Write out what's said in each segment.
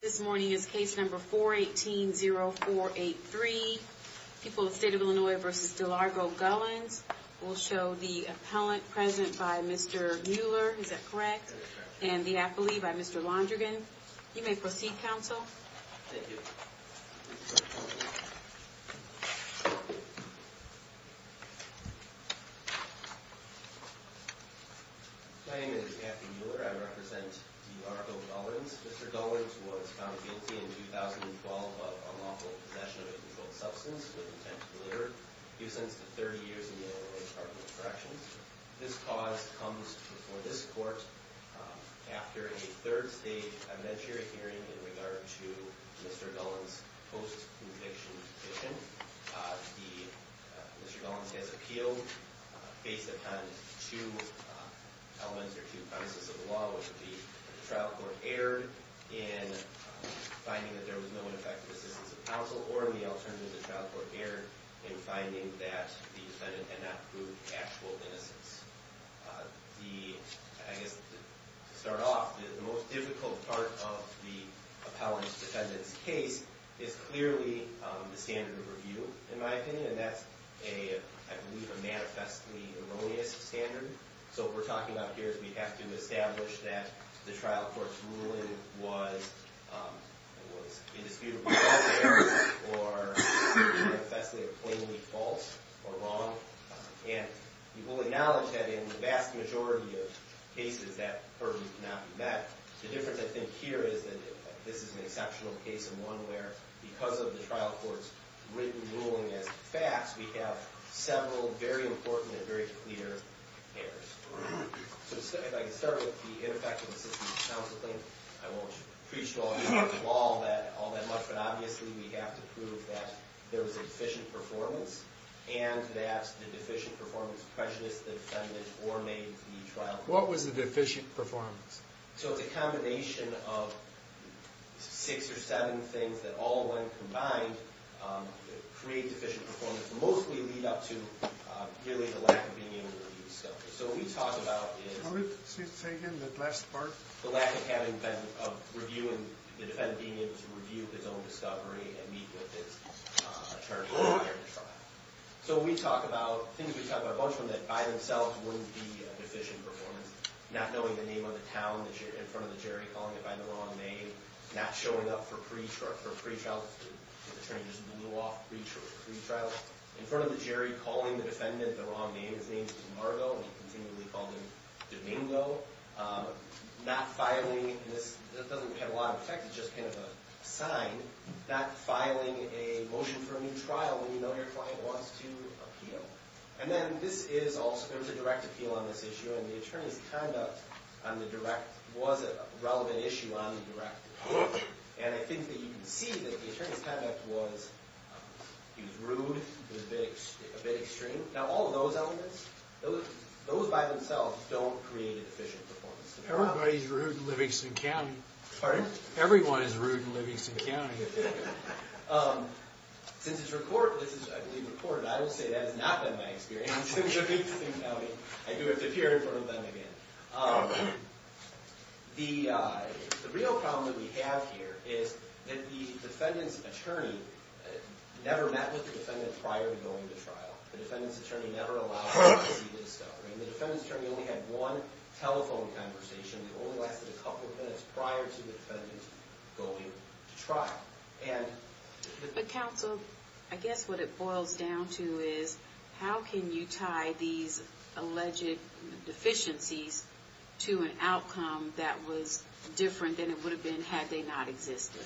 This morning is case number 418-0483. People of the State of Illinois v. Delargo Gullans. We'll show the appellant present by Mr. Mueller. Is that correct? And the appellee by Mr. Londrigan. You may proceed, counsel. Thank you. My name is Anthony Mueller. I represent D. Largo Gullans. Mr. Gullans was found guilty in 2012 of unlawful possession of a controlled substance with intent to deliver. He was sentenced to 30 years in the Illinois Department of Corrections. This cause comes before this court after a third-stage evidentiary hearing in regard to Mr. Gullans' post-conviction petition. Mr. Gullans has appealed based upon two elements or two premises of the law, which would be the trial court error in finding that there was no ineffective assistance of counsel, or the alternative, the trial court error in finding that the defendant had not proved actual innocence. I guess to start off, the most difficult part of the appellant's defendant's case is clearly the standard of review, in my opinion. And that's, I believe, a manifestly erroneous standard. So what we're talking about here is we have to establish that the trial court's ruling was indisputably false or manifestly or plainly false or wrong. And we will acknowledge that in the vast majority of cases that purview cannot be met. The difference, I think, here is that this is an exceptional case and one where, because of the trial court's written ruling as facts, we have several very important and very clear errors. So if I can start with the ineffective assistance of counsel claim, I won't preach to all of you about the law all that much, but obviously we have to prove that there was a deficient performance and that the deficient performance prejudiced the defendant or made the trial court erroneous. What was the deficient performance? So it's a combination of six or seven things that all, when combined, create deficient performance, mostly lead up to, really, the lack of being able to review stuff. So what we talk about is the lack of the defendant being able to review his own discovery and meet with his attorney prior to trial. So we talk about a bunch of things that, by themselves, wouldn't be a deficient performance. Not knowing the name of the town in front of the jury, calling it by the wrong name, not showing up for pre-trial, the attorney just blew off pre-trial. In front of the jury, calling the defendant the wrong name, his name's DeMarco, and he continually called him Domingo. Not filing, and this doesn't have a lot of effect, it's just kind of a sign, not filing a motion for a new trial when you know your client wants to appeal. And then this is also, there was a direct appeal on this issue, and the attorney's conduct on the direct was a relevant issue on the direct appeal. And I think that you can see that the attorney's conduct was, he was rude, he was a bit extreme. Now, all of those elements, those by themselves don't create a deficient performance. Everybody's rude in Livingston County. Pardon? Everyone is rude in Livingston County. Since it's recorded, I will say that has not been my experience in Livingston County. I do have to appear in front of them again. The real problem that we have here is that the defendant's attorney never met with the defendant prior to going to trial. The defendant's attorney never allowed them to see this stuff. The defendant's attorney only had one telephone conversation that only lasted a couple of minutes prior to the defendant going to trial. But counsel, I guess what it boils down to is, how can you tie these alleged deficiencies to an outcome that was different than it would have been had they not existed?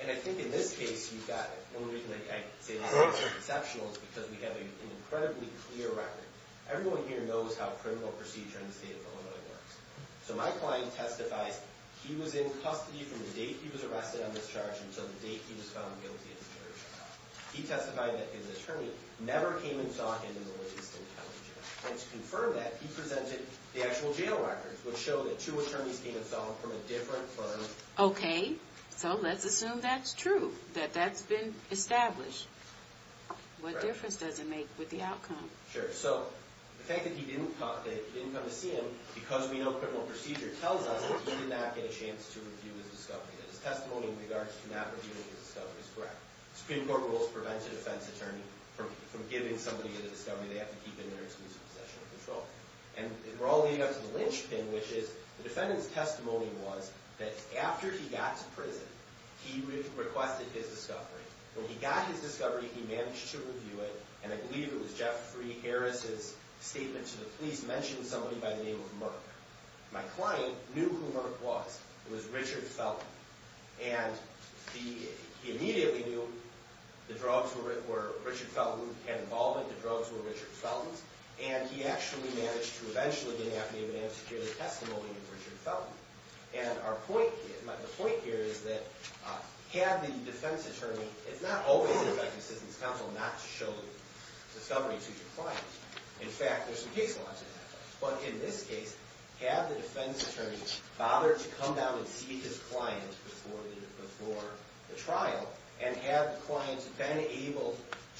And I think in this case, you've got it. One of the reasons I say this case is exceptional is because we have an incredibly clear record. Everyone here knows how criminal procedure in the state of Illinois works. So my client testifies he was in custody from the date he was arrested on this charge until the date he was found guilty in the jury trial. He testified that his attorney never came and saw him in the Livingston County jail. And to confirm that, he presented the actual jail records, which show that two attorneys came and saw him from a different firm. Okay. So let's assume that's true, that that's been established. What difference does it make with the outcome? Sure. So the fact that he didn't come to see him, because we know criminal procedure, tells us that he did not get a chance to review his discovery. That his testimony in regards to not reviewing his discovery is correct. Supreme Court rules prevent a defense attorney from giving somebody a discovery they have to keep in their exclusive possession or control. And we're all leading up to the lynchpin, which is the defendant's testimony was that after he got to prison, he requested his discovery. When he got his discovery, he managed to review it. And I believe it was Jeffrey Harris' statement to the police mentioning somebody by the name of Merck. My client knew who Merck was. It was Richard Felton. And he immediately knew the drugs were Richard Felton who had involvement. The drugs were Richard Felton's. And he actually managed to eventually get an affidavit and secure the testimony of Richard Felton. And our point here, the point here is that had the defense attorney, it's not always in the Justice Assistance Council not to show the discovery to your client. In fact, there's some case laws that have that. But in this case, had the defense attorney bothered to come down and see his client before the trial, and had the client been able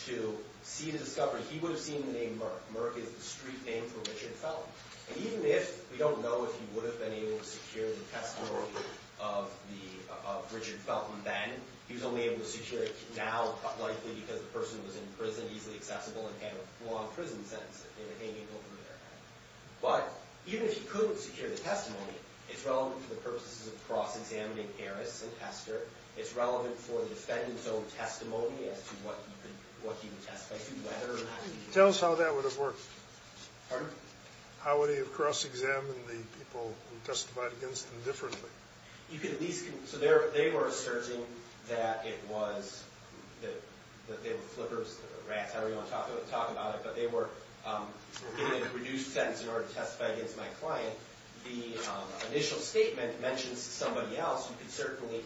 to see the discovery, he would have seen the name Merck. Merck is the street name for Richard Felton. We don't know if he would have been able to secure the testimony of Richard Felton then. He was only able to secure it now likely because the person was in prison, easily accessible, and had a long prison sentence that they were hanging over their head. But even if he couldn't secure the testimony, it's relevant to the purposes of cross-examining Harris and Hester. It's relevant for the defendant's own testimony as to what he would testify to, whether or not he did. Tell us how that would have worked. Pardon? How would he have cross-examined the people who testified against him differently? You could at least – so they were asserting that it was – that they were flippers, rats, however you want to talk about it. But they were giving a reduced sentence in order to testify against my client. The initial statement mentions somebody else. You can certainly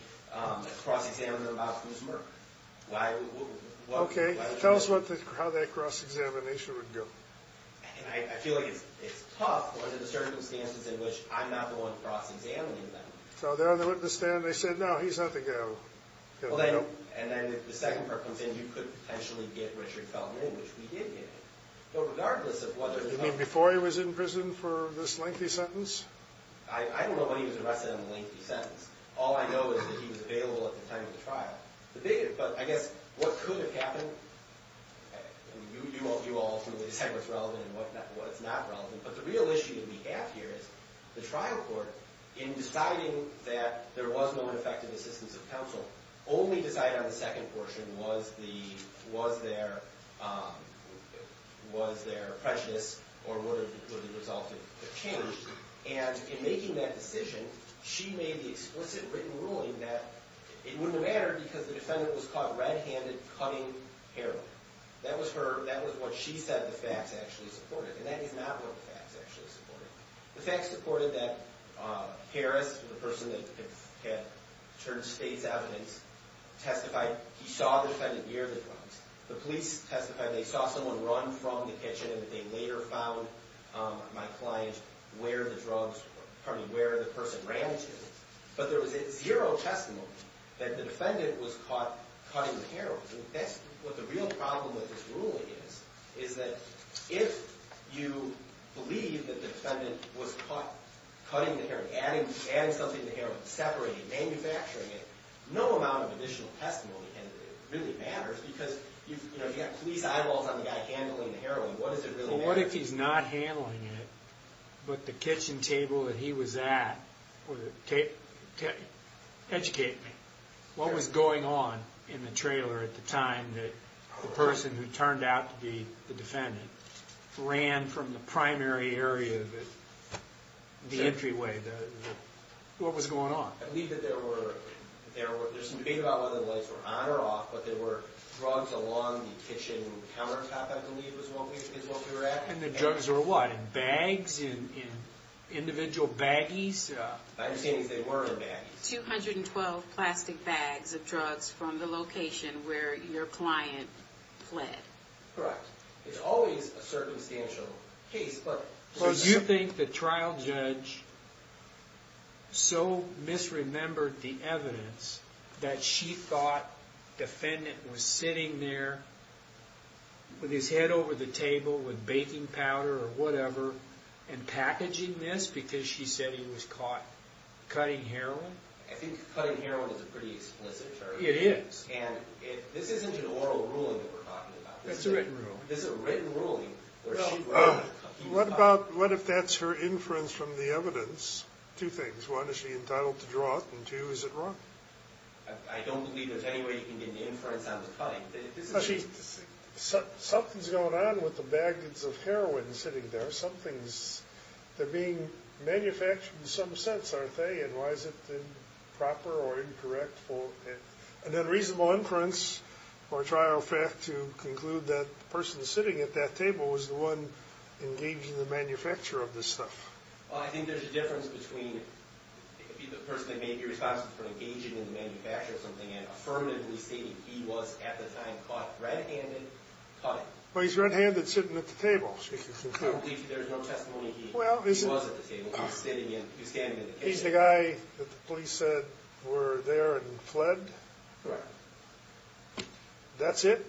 cross-examine them about who's Merck. Okay. Tell us how that cross-examination would go. I feel like it's tough under the circumstances in which I'm not the one cross-examining them. So they're on the witness stand. They said, no, he's not the guy who – And then the second part comes in. You could potentially get Richard Felton in, which we did get him. But regardless of whether – You mean before he was in prison for this lengthy sentence? I don't know when he was arrested on the lengthy sentence. All I know is that he was available at the time of the trial. But I guess what could have happened – I mean, you all ultimately decide what's relevant and what's not relevant. But the real issue that we have here is the trial court, in deciding that there was no effective assistance of counsel, only decided on the second portion was the – was there prejudice or would it have resulted in change. And in making that decision, she made the explicit written ruling that it wouldn't have mattered because the defendant was caught red-handed cutting heroin. That was her – that was what she said the facts actually supported. And that is not what the facts actually supported. The facts supported that Harris, the person that had turned state's evidence, testified. He saw the defendant near the drugs. The police testified. They saw someone run from the kitchen. They later found my client where the drugs – pardon me, where the person ran to. But there was zero testimony that the defendant was caught cutting heroin. That's what the real problem with this ruling is, is that if you believe that the defendant was caught cutting heroin, adding something to heroin, separating, manufacturing it, no amount of additional testimony really matters because, you know, you've got police eyeballs on the guy handling the heroin. What does it really matter? What if he's not handling it, but the kitchen table that he was at – educate me. What was going on in the trailer at the time that the person who turned out to be the defendant ran from the primary area of the entryway? What was going on? I believe that there were – there was some debate about whether the lights were on or off, but there were drugs along the kitchen countertop, I believe, is what we were at. And the drugs were what, in bags, in individual baggies? My understanding is they were in baggies. Two hundred and twelve plastic bags of drugs from the location where your client fled. Correct. It's always a circumstantial case. So you think the trial judge so misremembered the evidence that she thought the defendant was sitting there with his head over the table with baking powder or whatever and packaging this because she said he was caught cutting heroin? I think cutting heroin is a pretty explicit charge. It is. And this isn't an oral ruling that we're talking about. It's a written ruling. Well, what if that's her inference from the evidence? Two things. One, is she entitled to draw it, and two, is it wrong? I don't believe there's any way you can get an inference on the cutting. Something's going on with the baggage of heroin sitting there. Something's – they're being manufactured in some sense, aren't they, and why is it improper or incorrect for an unreasonable inference or trial fact to conclude that the person sitting at that table was the one engaging in the manufacture of this stuff? I think there's a difference between the person that may be responsible for engaging in the manufacture of something and affirmatively stating he was at the time caught red-handed cutting. Well, he's red-handed sitting at the table. I don't believe there's no testimony he was at the table. He's standing at the table. He's the guy that the police said were there and fled? Correct. That's it?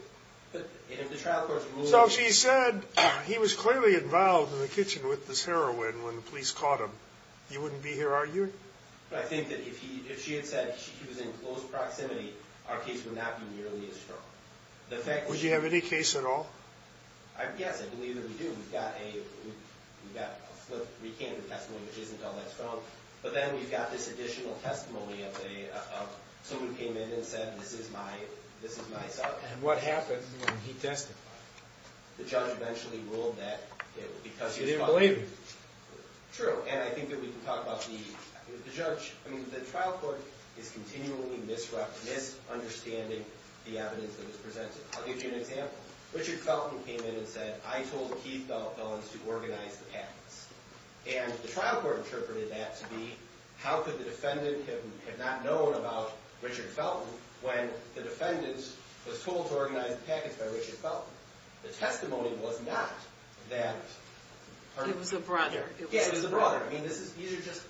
So if she said he was clearly involved in the kitchen with this heroin when the police caught him, you wouldn't be here arguing? I think that if she had said he was in close proximity, our case would not be nearly as strong. Would you have any case at all? Yes, I believe that we do. We've got a flipped recanted testimony which isn't all that strong, but then we've got this additional testimony of somebody who came in and said this is my son. And what happened when he testified? The judge eventually ruled that it was because he was caught. So you didn't believe him? True, and I think that we can talk about the judge. I mean, the trial court is continually misunderstanding the evidence that is presented. I'll give you an example. I told the Keith Bell felons to organize the patents. And the trial court interpreted that to be how could the defendant have not known about Richard Felton when the defendant was told to organize the patents by Richard Felton? The testimony was not that. It was a brother. Yeah, it was a brother. I mean, these are just,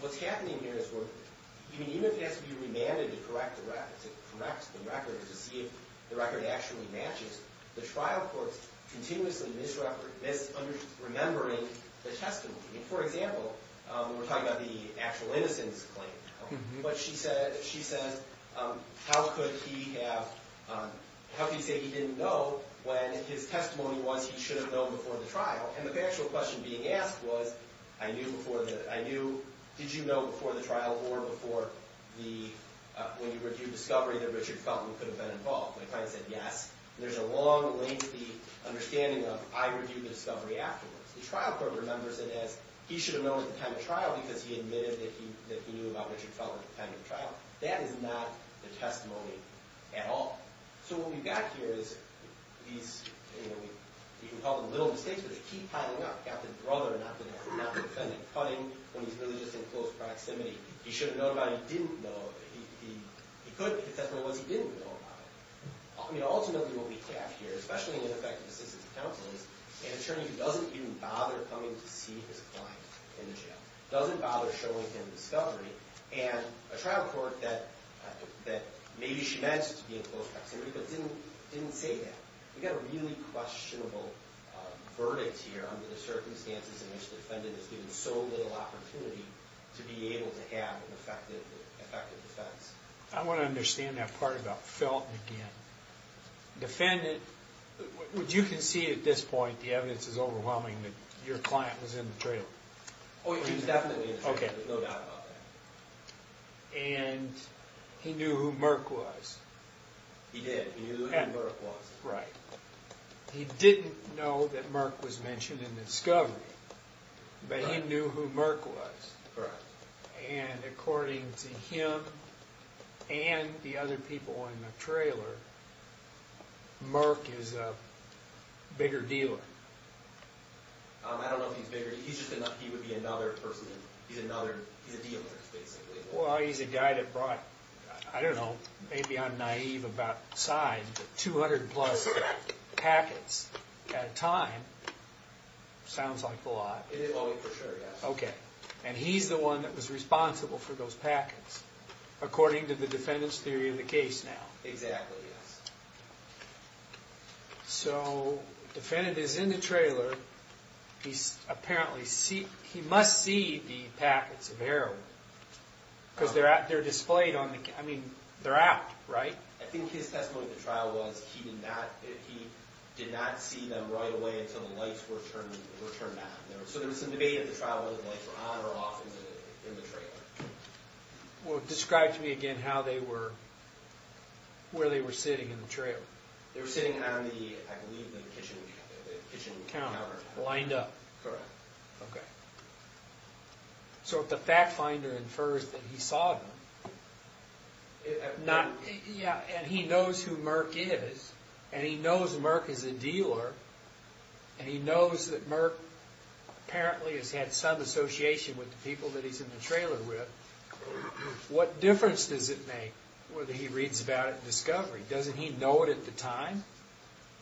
what's happening here is we're, I mean, even if it has to be remanded to correct the record, to correct the record to see if the record actually matches, the trial court is continuously misremembering the testimony. For example, we were talking about the actual innocence claim. But she said, how could he have, how could he say he didn't know when his testimony was he should have known before the trial? And the actual question being asked was, I knew before the, I knew, did you know before the trial or before the, when you were due discovery that Richard Felton could have been involved? My client said yes. There's a long, lengthy understanding of I reviewed the discovery afterwards. The trial court remembers it as he should have known at the time of trial because he admitted that he knew about Richard Felton at the time of the trial. That is not the testimony at all. So what we've got here is these, you know, we can call them little mistakes, but they keep piling up. We've got the brother, not the defendant, cutting when he's really just in close proximity. He should have known about it. He didn't know. He could if the testimony was he didn't know about it. I mean, ultimately what we have here, especially in ineffective assistance of counsel, is an attorney who doesn't even bother coming to see his client in jail, doesn't bother showing him discovery, and a trial court that maybe she meant to be in close proximity but didn't say that. We've got a really questionable verdict here under the circumstances in which the defendant is given so little opportunity to be able to have an effective defense. I want to understand that part about Felton again. Defendant, would you concede at this point, the evidence is overwhelming, that your client was in the trailer? Oh, he was definitely in the trailer. There's no doubt about that. And he knew who Merck was. He did. He knew who Merck was. Right. He didn't know that Merck was mentioned in discovery, but he knew who Merck was. Right. And according to him and the other people in the trailer, Merck is a bigger dealer. I don't know if he's bigger. He would be another person. He's a dealer, basically. Well, he's a guy that brought, I don't know, maybe I'm naive about size, but 200-plus packets at a time. Sounds like a lot. Oh, for sure, yes. Okay. And he's the one that was responsible for those packets, according to the defendant's theory of the case now. Exactly, yes. So the defendant is in the trailer. He must see the packets of heroin because they're displayed on the camera. I mean, they're out, right? I think his testimony at the trial was he did not see them right away until the lights were turned on. So there was some debate at the trial whether the lights were on or off in the trailer. Describe to me again where they were sitting in the trailer. They were sitting on the, I believe, the kitchen counter. Lined up. Correct. Okay. So if the fact finder infers that he saw them, and he knows who Merck is, and he knows Merck is a dealer, and he knows that Merck apparently has had some association with the people that he's in the trailer with, what difference does it make whether he reads about it in discovery? Doesn't he know it at the time?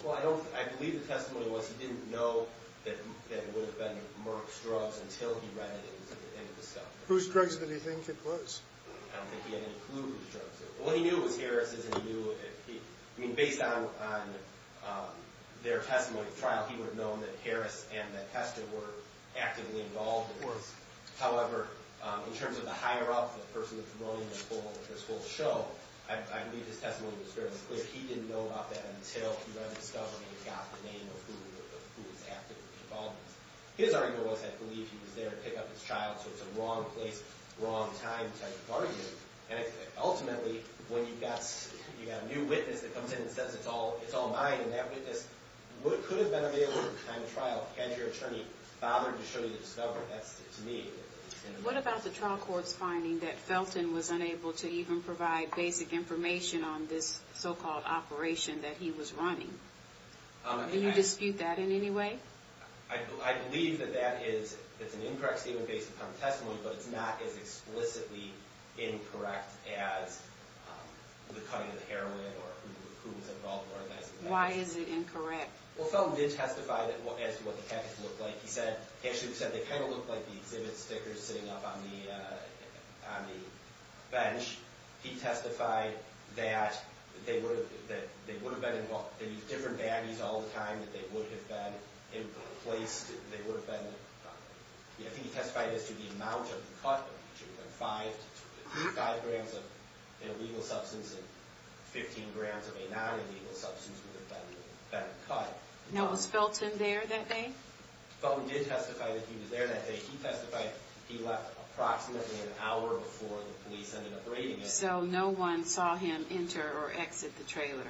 Well, I believe the testimony was he didn't know that it would have been Merck's drugs until he read it in the discovery. Whose drugs did he think it was? I don't think he had any clue whose drugs it was. What he knew was Harris's, and he knew, I mean, based on their testimony at the trial, he would have known that Harris and that Hester were actively involved in this. However, in terms of the higher-up, the person promoting this whole show, I believe his testimony was fairly clear. He didn't know about that until he read the discovery and got the name of who was actively involved in this. His argument was, I believe, he was there to pick up his child, so it's a wrong place, wrong time type of argument. And ultimately, when you've got a new witness that comes in and says, it's all mine, and that witness could have been available at the time of trial had your attorney bothered to show you the discovery. That's, to me— What about the trial court's finding that Felton was unable to even provide basic information on this so-called operation that he was running? Do you dispute that in any way? I believe that that is—it's an incorrect statement based upon testimony, but it's not as explicitly incorrect as the cutting of the heroin or who was involved in organizing that case. Why is it incorrect? Well, Felton did testify as to what the package looked like. He said—actually, he said they kind of looked like the exhibit stickers sitting up on the bench. He testified that they would have been involved— they would have been placed—they would have been— he testified as to the amount of the cut, which would have been 5 grams of illegal substance and 15 grams of a non-illegal substance would have been cut. Now, was Felton there that day? Felton did testify that he was there that day. He testified he left approximately an hour before the police ended up raiding it. So no one saw him enter or exit the trailer,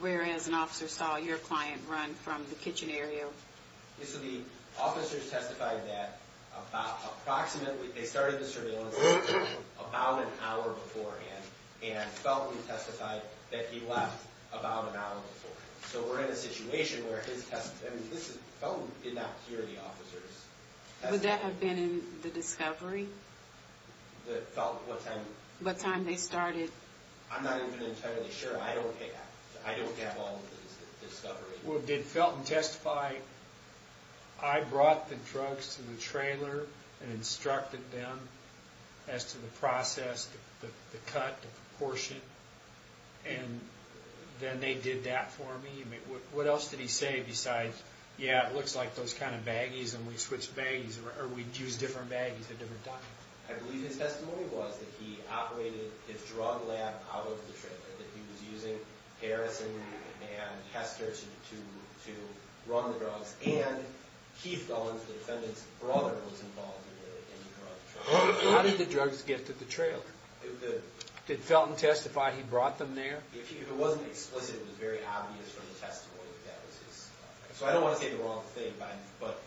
whereas an officer saw your client run from the kitchen area. So the officers testified that approximately— they started the surveillance about an hour beforehand and Felton testified that he left about an hour beforehand. So we're in a situation where his testimony— this is—Felton did not hear the officer's testimony. Would that have been in the discovery? Felton, what time? What time they started. I'm not even entirely sure. I don't have all of his discovery. Well, did Felton testify, I brought the drugs to the trailer and instructed them as to the process, the cut, the proportion, and then they did that for me? I mean, what else did he say besides, yeah, it looks like those kind of baggies and we switch baggies or we'd use different baggies at different times? I believe his testimony was that he operated his drug lab out of the trailer, that he was using Harrison and Hester to run the drugs, and Keith Gullen, the defendant's brother, was involved in the drug trial. How did the drugs get to the trailer? Did Felton testify he brought them there? If it wasn't explicit, it was very obvious from the testimony that that was his— so I don't want to say the wrong thing, but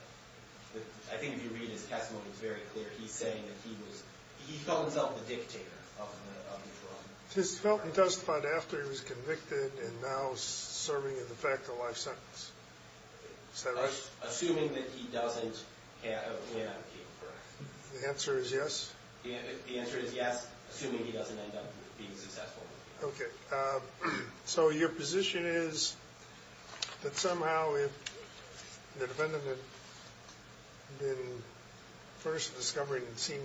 I think if you read his testimony, it's very clear. He's saying that he was—he felt himself the dictator of the drug. So is Felton testified after he was convicted and now serving a de facto life sentence? Is that right? Assuming that he doesn't have—yeah. The answer is yes? The answer is yes, assuming he doesn't end up being successful. Okay. So your position is that somehow if the defendant had been first discovering and seeing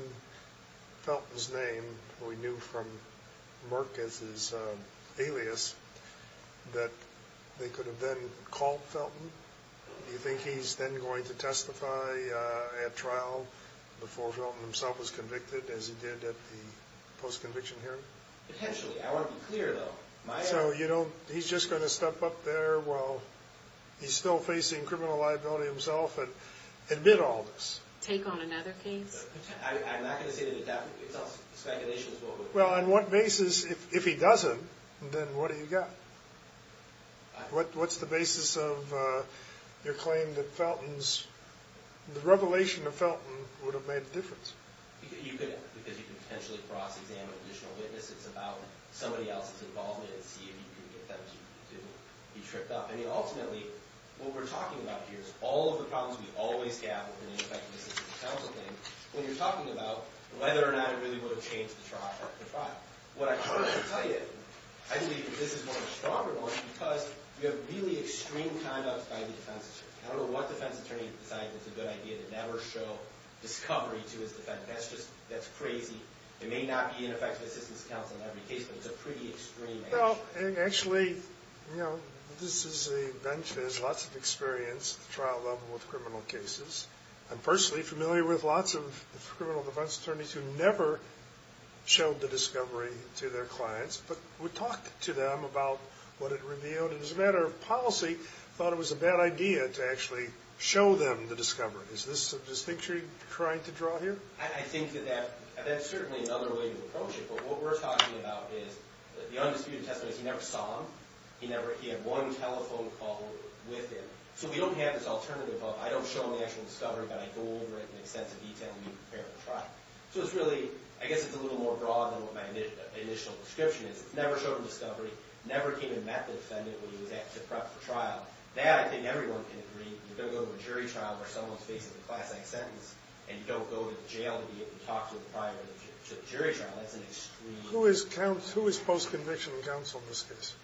Felton's name, we knew from Merck as his alias, that they could have then called Felton? Do you think he's then going to testify at trial before Felton himself was convicted as he did at the post-conviction hearing? Potentially. I want to be clear, though. So you don't—he's just going to step up there while he's still facing criminal liability himself and admit all this? Take on another case? I'm not going to say that it happened. It's speculation as well. Well, on what basis, if he doesn't, then what do you got? What's the basis of your claim that Felton's— the revelation of Felton would have made a difference? Because you could potentially cross-examine additional witnesses about somebody else's involvement and see if you can get them to be tripped up. I mean, ultimately, what we're talking about here is all of the problems we always have within the effective assistance counsel thing when you're talking about whether or not it really would have changed the trial. What I'm trying to tell you, I believe this is more of a stronger one because you have really extreme conduct by the defense attorney. I don't know what defense attorney decided it was a good idea to never show discovery to his defendant. That's crazy. It may not be an effective assistance counsel in every case, but it's a pretty extreme action. Actually, this is a bench that has lots of experience at the trial level with criminal cases. I'm personally familiar with lots of criminal defense attorneys who never showed the discovery to their clients but would talk to them about what it revealed. It was a matter of policy. I thought it was a bad idea to actually show them the discovery. Is this a distinction you're trying to draw here? I think that that's certainly another way to approach it, but what we're talking about is the undisputed testimony is he never saw him. He had one telephone call with him. So we don't have this alternative of I don't show him the actual discovery, but I go over it in extensive detail to be prepared for trial. So it's really, I guess it's a little more broad than what my initial description is. Never showed him discovery, never came and met the defendant when he was asked to prep for trial. That, I think everyone can agree, you don't go to a jury trial where someone faces a class-act sentence and you don't go to jail to be able to talk to the prior jury trial. That's an extreme... Who is post-conviction counsel in this case?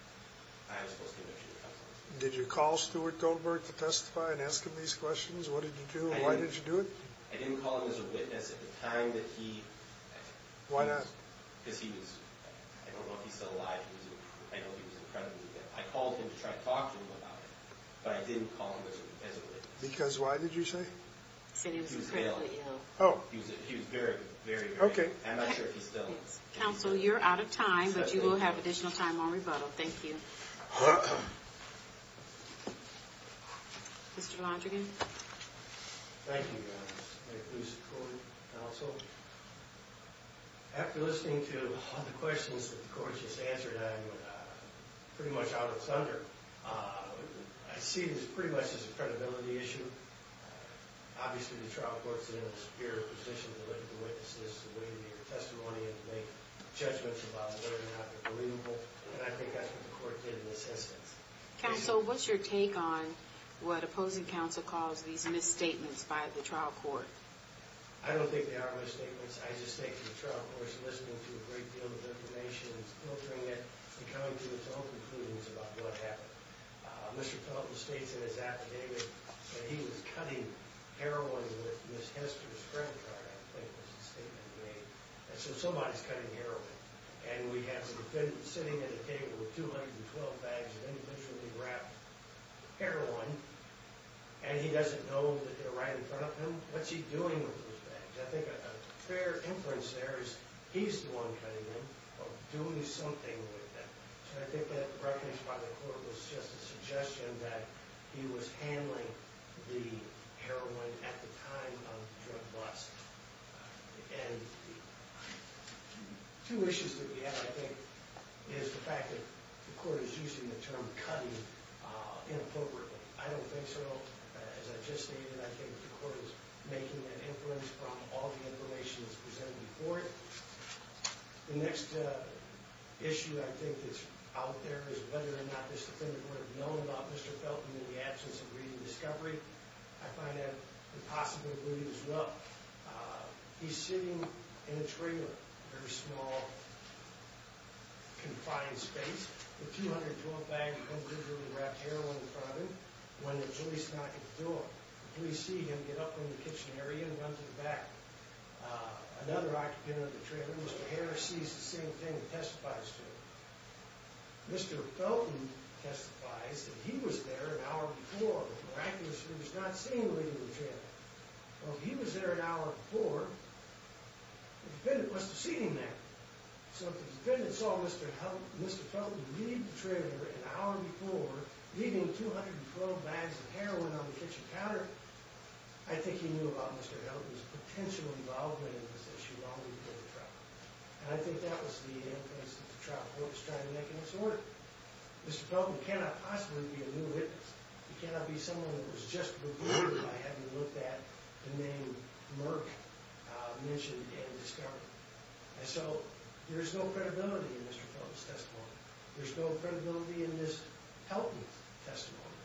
I was post-conviction counsel. Did you call Stuart Goldberg to testify and ask him these questions? What did you do? Why did you do it? I didn't call him as a witness at the time that he... Why not? Because he was... I don't know if he's still alive. I know he was in prison. I called him to try to talk to him about it, but I didn't call him as a witness. Because why did you say? He was very, very... Okay. I'm not sure if he's still... Counsel, you're out of time, but you will have additional time on rebuttal. Thank you. Mr. Londrigan. Thank you, Ms. Coleman, counsel. After listening to all the questions that the court just answered, I'm pretty much out of thunder. I see this pretty much as a credibility issue. Obviously, the trial court is in a superior position to look at the witnesses in order to make a testimony and to make judgments about whether or not they're believable, and I think that's what the court did in this instance. Counsel, what's your take on what opposing counsel calls these misstatements by the trial court? I don't think they are misstatements. I just think the trial court is listening to a great deal of information and coming to its own conclusions about what happened. Mr. Pelton states in his affidavit that he was cutting heroin with Ms. Hester's credit card, I think was the statement he made. And so somebody's cutting heroin, and we have a defendant sitting at a table with 212 bags of individually wrapped heroin, and he doesn't know that they're right in front of him. What's he doing with those bags? I think a fair inference there is he's the one cutting them or doing something with them. So I think that reference by the court was just a suggestion that he was handling the heroin at the time of the drug bust. Two issues that we have, I think, is the fact that the court is using the term cutting inappropriately. I don't think so. As I just stated, I think the court is making an inference from all the information that's presented before it. The next issue I think that's out there is whether or not this defendant would have known about Mr. Pelton in the absence of reading the discovery. I find that impossible to believe as well. He's sitting in a trailer, a very small, confined space, with 212 bags of individually wrapped heroin in front of him, and when the police knock at the door, the police see him get up from the kitchen area and run to the back. Another occupant of the trailer, Mr. Harris, sees the same thing and testifies to it. Mr. Pelton testifies that he was there an hour before. Miraculously, he was not seeing the lady in the trailer. Well, if he was there an hour before, the defendant must have seen him there. So if the defendant saw Mr. Pelton leave the trailer an hour before, leaving 212 bags of heroin on the kitchen counter, I think he knew about Mr. Pelton's potential involvement in this issue while he was in the truck. And I think that was the inference that the trial court was trying to make in its work. Mr. Pelton cannot possibly be a new witness. He cannot be someone who was just revealed by having looked at the name Merck mentioned in the discovery. And so there's no credibility in Mr. Pelton's testimony. There's no credibility in Ms. Pelton's testimony.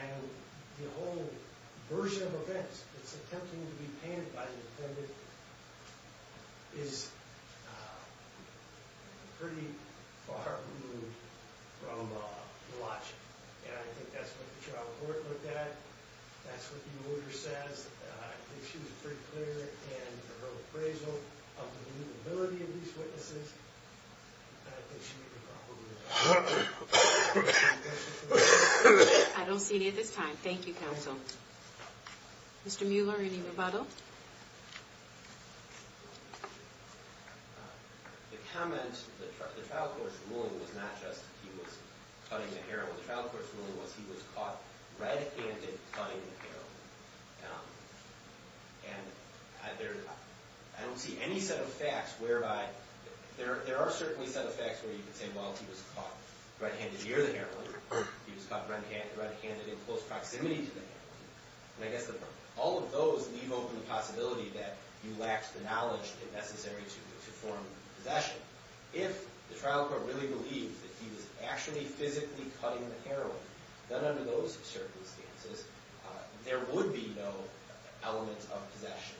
And the whole version of events that's attempting to be painted by the defendant is pretty far removed from logic. And I think that's what the trial court looked at. That's what the awarder says. I think she was pretty clear in her appraisal of the believability of these witnesses. And I think she made the proper ruling. Any questions? I don't see any at this time. Thank you, counsel. Mr. Mueller, any rebuttal? The comment, the trial court's ruling was not just he was cutting the heroin. The trial court's ruling was he was caught red-handed cutting the heroin. And I don't see any set of facts whereby – there are certainly set of facts where you can say, well, he was caught red-handed near the heroin. He was caught red-handed in close proximity to the heroin. And I guess all of those leave open the possibility that you lacked the knowledge necessary to form possession. If the trial court really believed that he was actually physically cutting the heroin, then under those circumstances, there would be no element of possession.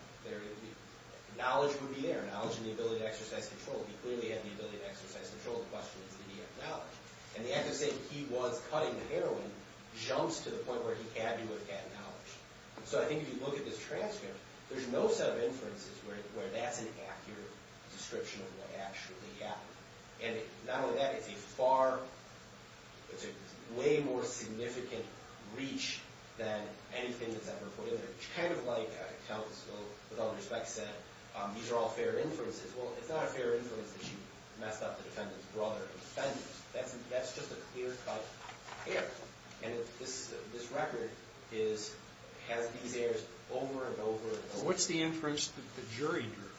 Knowledge would be there, knowledge and the ability to exercise control. He clearly had the ability to exercise control. The question is did he have knowledge? And the act of saying he was cutting the heroin jumps to the point where he had to have had knowledge. So I think if you look at this transcript, there's no set of inferences where that's an accurate description of what actually happened. And not only that, it's a far – it's a way more significant reach than anything that's ever put in there. Kind of like a counsel, with all due respect, said these are all fair inferences. Well, it's not a fair inference that you messed up the defendant's brother and defendants. That's just a clear-cut error. And this record has these errors over and over and over. What's the inference that the jury drew?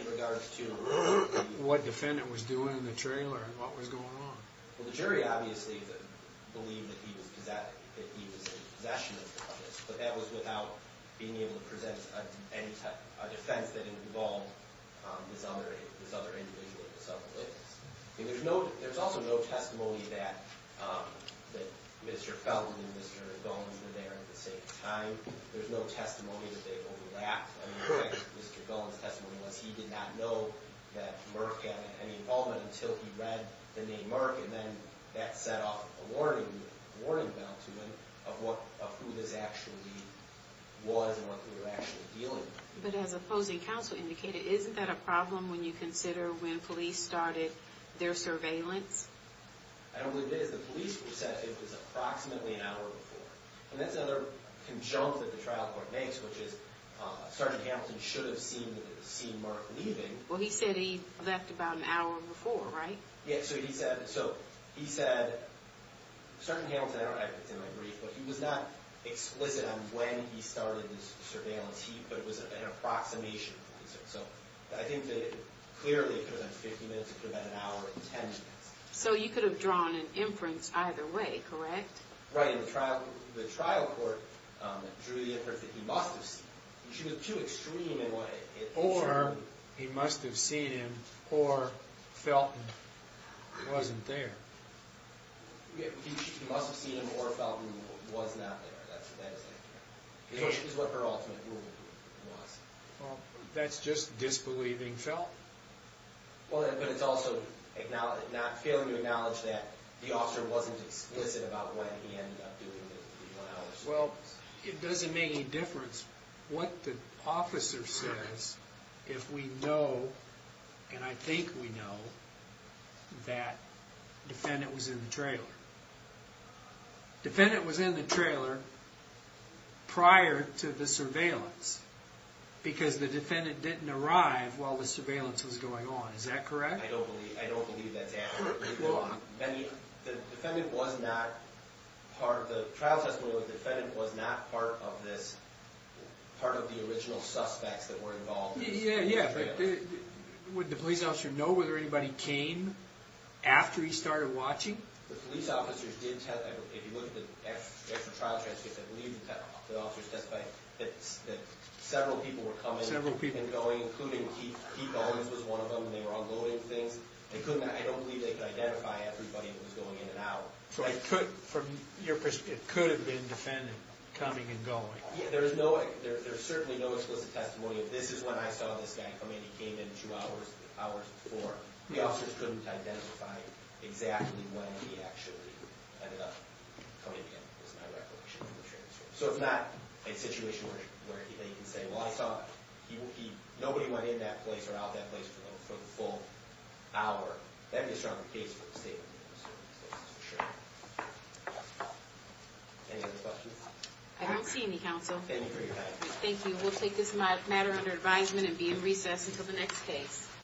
In regards to? What the defendant was doing in the trailer and what was going on. Well, the jury obviously believed that he was in possession of the substance. But that was without being able to present a defense that involved this other individual, this other witness. There's also no testimony that Mr. Feldman and Mr. Gullen were there at the same time. There's no testimony that they overlapped. Mr. Gullen's testimony was he did not know that Merck had any involvement until he read the name Merck. And then that set off a warning bell to him of who this actually was and what they were actually dealing with. But as opposing counsel indicated, isn't that a problem when you consider when police started their surveillance? I don't believe it is. The police said it was approximately an hour before. And that's another conjunct that the trial court makes, which is Sergeant Hamilton should have seen Merck leaving. Well, he said he left about an hour before, right? Yeah, so he said, Sergeant Hamilton, I don't know if it's in my brief, but he was not explicit on when he started the surveillance. He put it as an approximation. So I think that clearly it could have been 50 minutes, it could have been an hour, 10 minutes. So you could have drawn an inference either way, correct? Right, and the trial court drew the inference that he must have seen him. He wasn't there. He must have seen him or felt he was not there. That is what her ultimate ruling was. Well, that's just disbelieving felt. Well, but it's also failing to acknowledge that the officer wasn't explicit about when he ended up doing the surveillance. Well, it doesn't make any difference what the officer says if we know, and I think we know, that the defendant was in the trailer. The defendant was in the trailer prior to the surveillance because the defendant didn't arrive while the surveillance was going on. Is that correct? I don't believe that's accurate. The trial testimony of the defendant was not part of the original suspects that were involved. Yeah, but would the police officer know whether anybody came after he started watching? The police officers did test, if you look at the actual trial transcripts, I believe the officers testified that several people were coming and going, including Keith Owens was one of them, and they were unloading things. I don't believe they could identify everybody that was going in and out. So from your perspective, it could have been the defendant coming and going. Yeah, there's certainly no explicit testimony of this is when I saw this guy come in. He came in two hours before. The officers couldn't identify exactly when he actually ended up coming in, is my recollection of the transcript. So it's not a situation where you can say, well, I saw nobody went in that place or out that place for the full hour. That would be a stronger case for the state of Minnesota. Any other questions? I don't see any, counsel. Thank you for your time. Thank you. We'll take this matter under advisement and be in recess until the next case.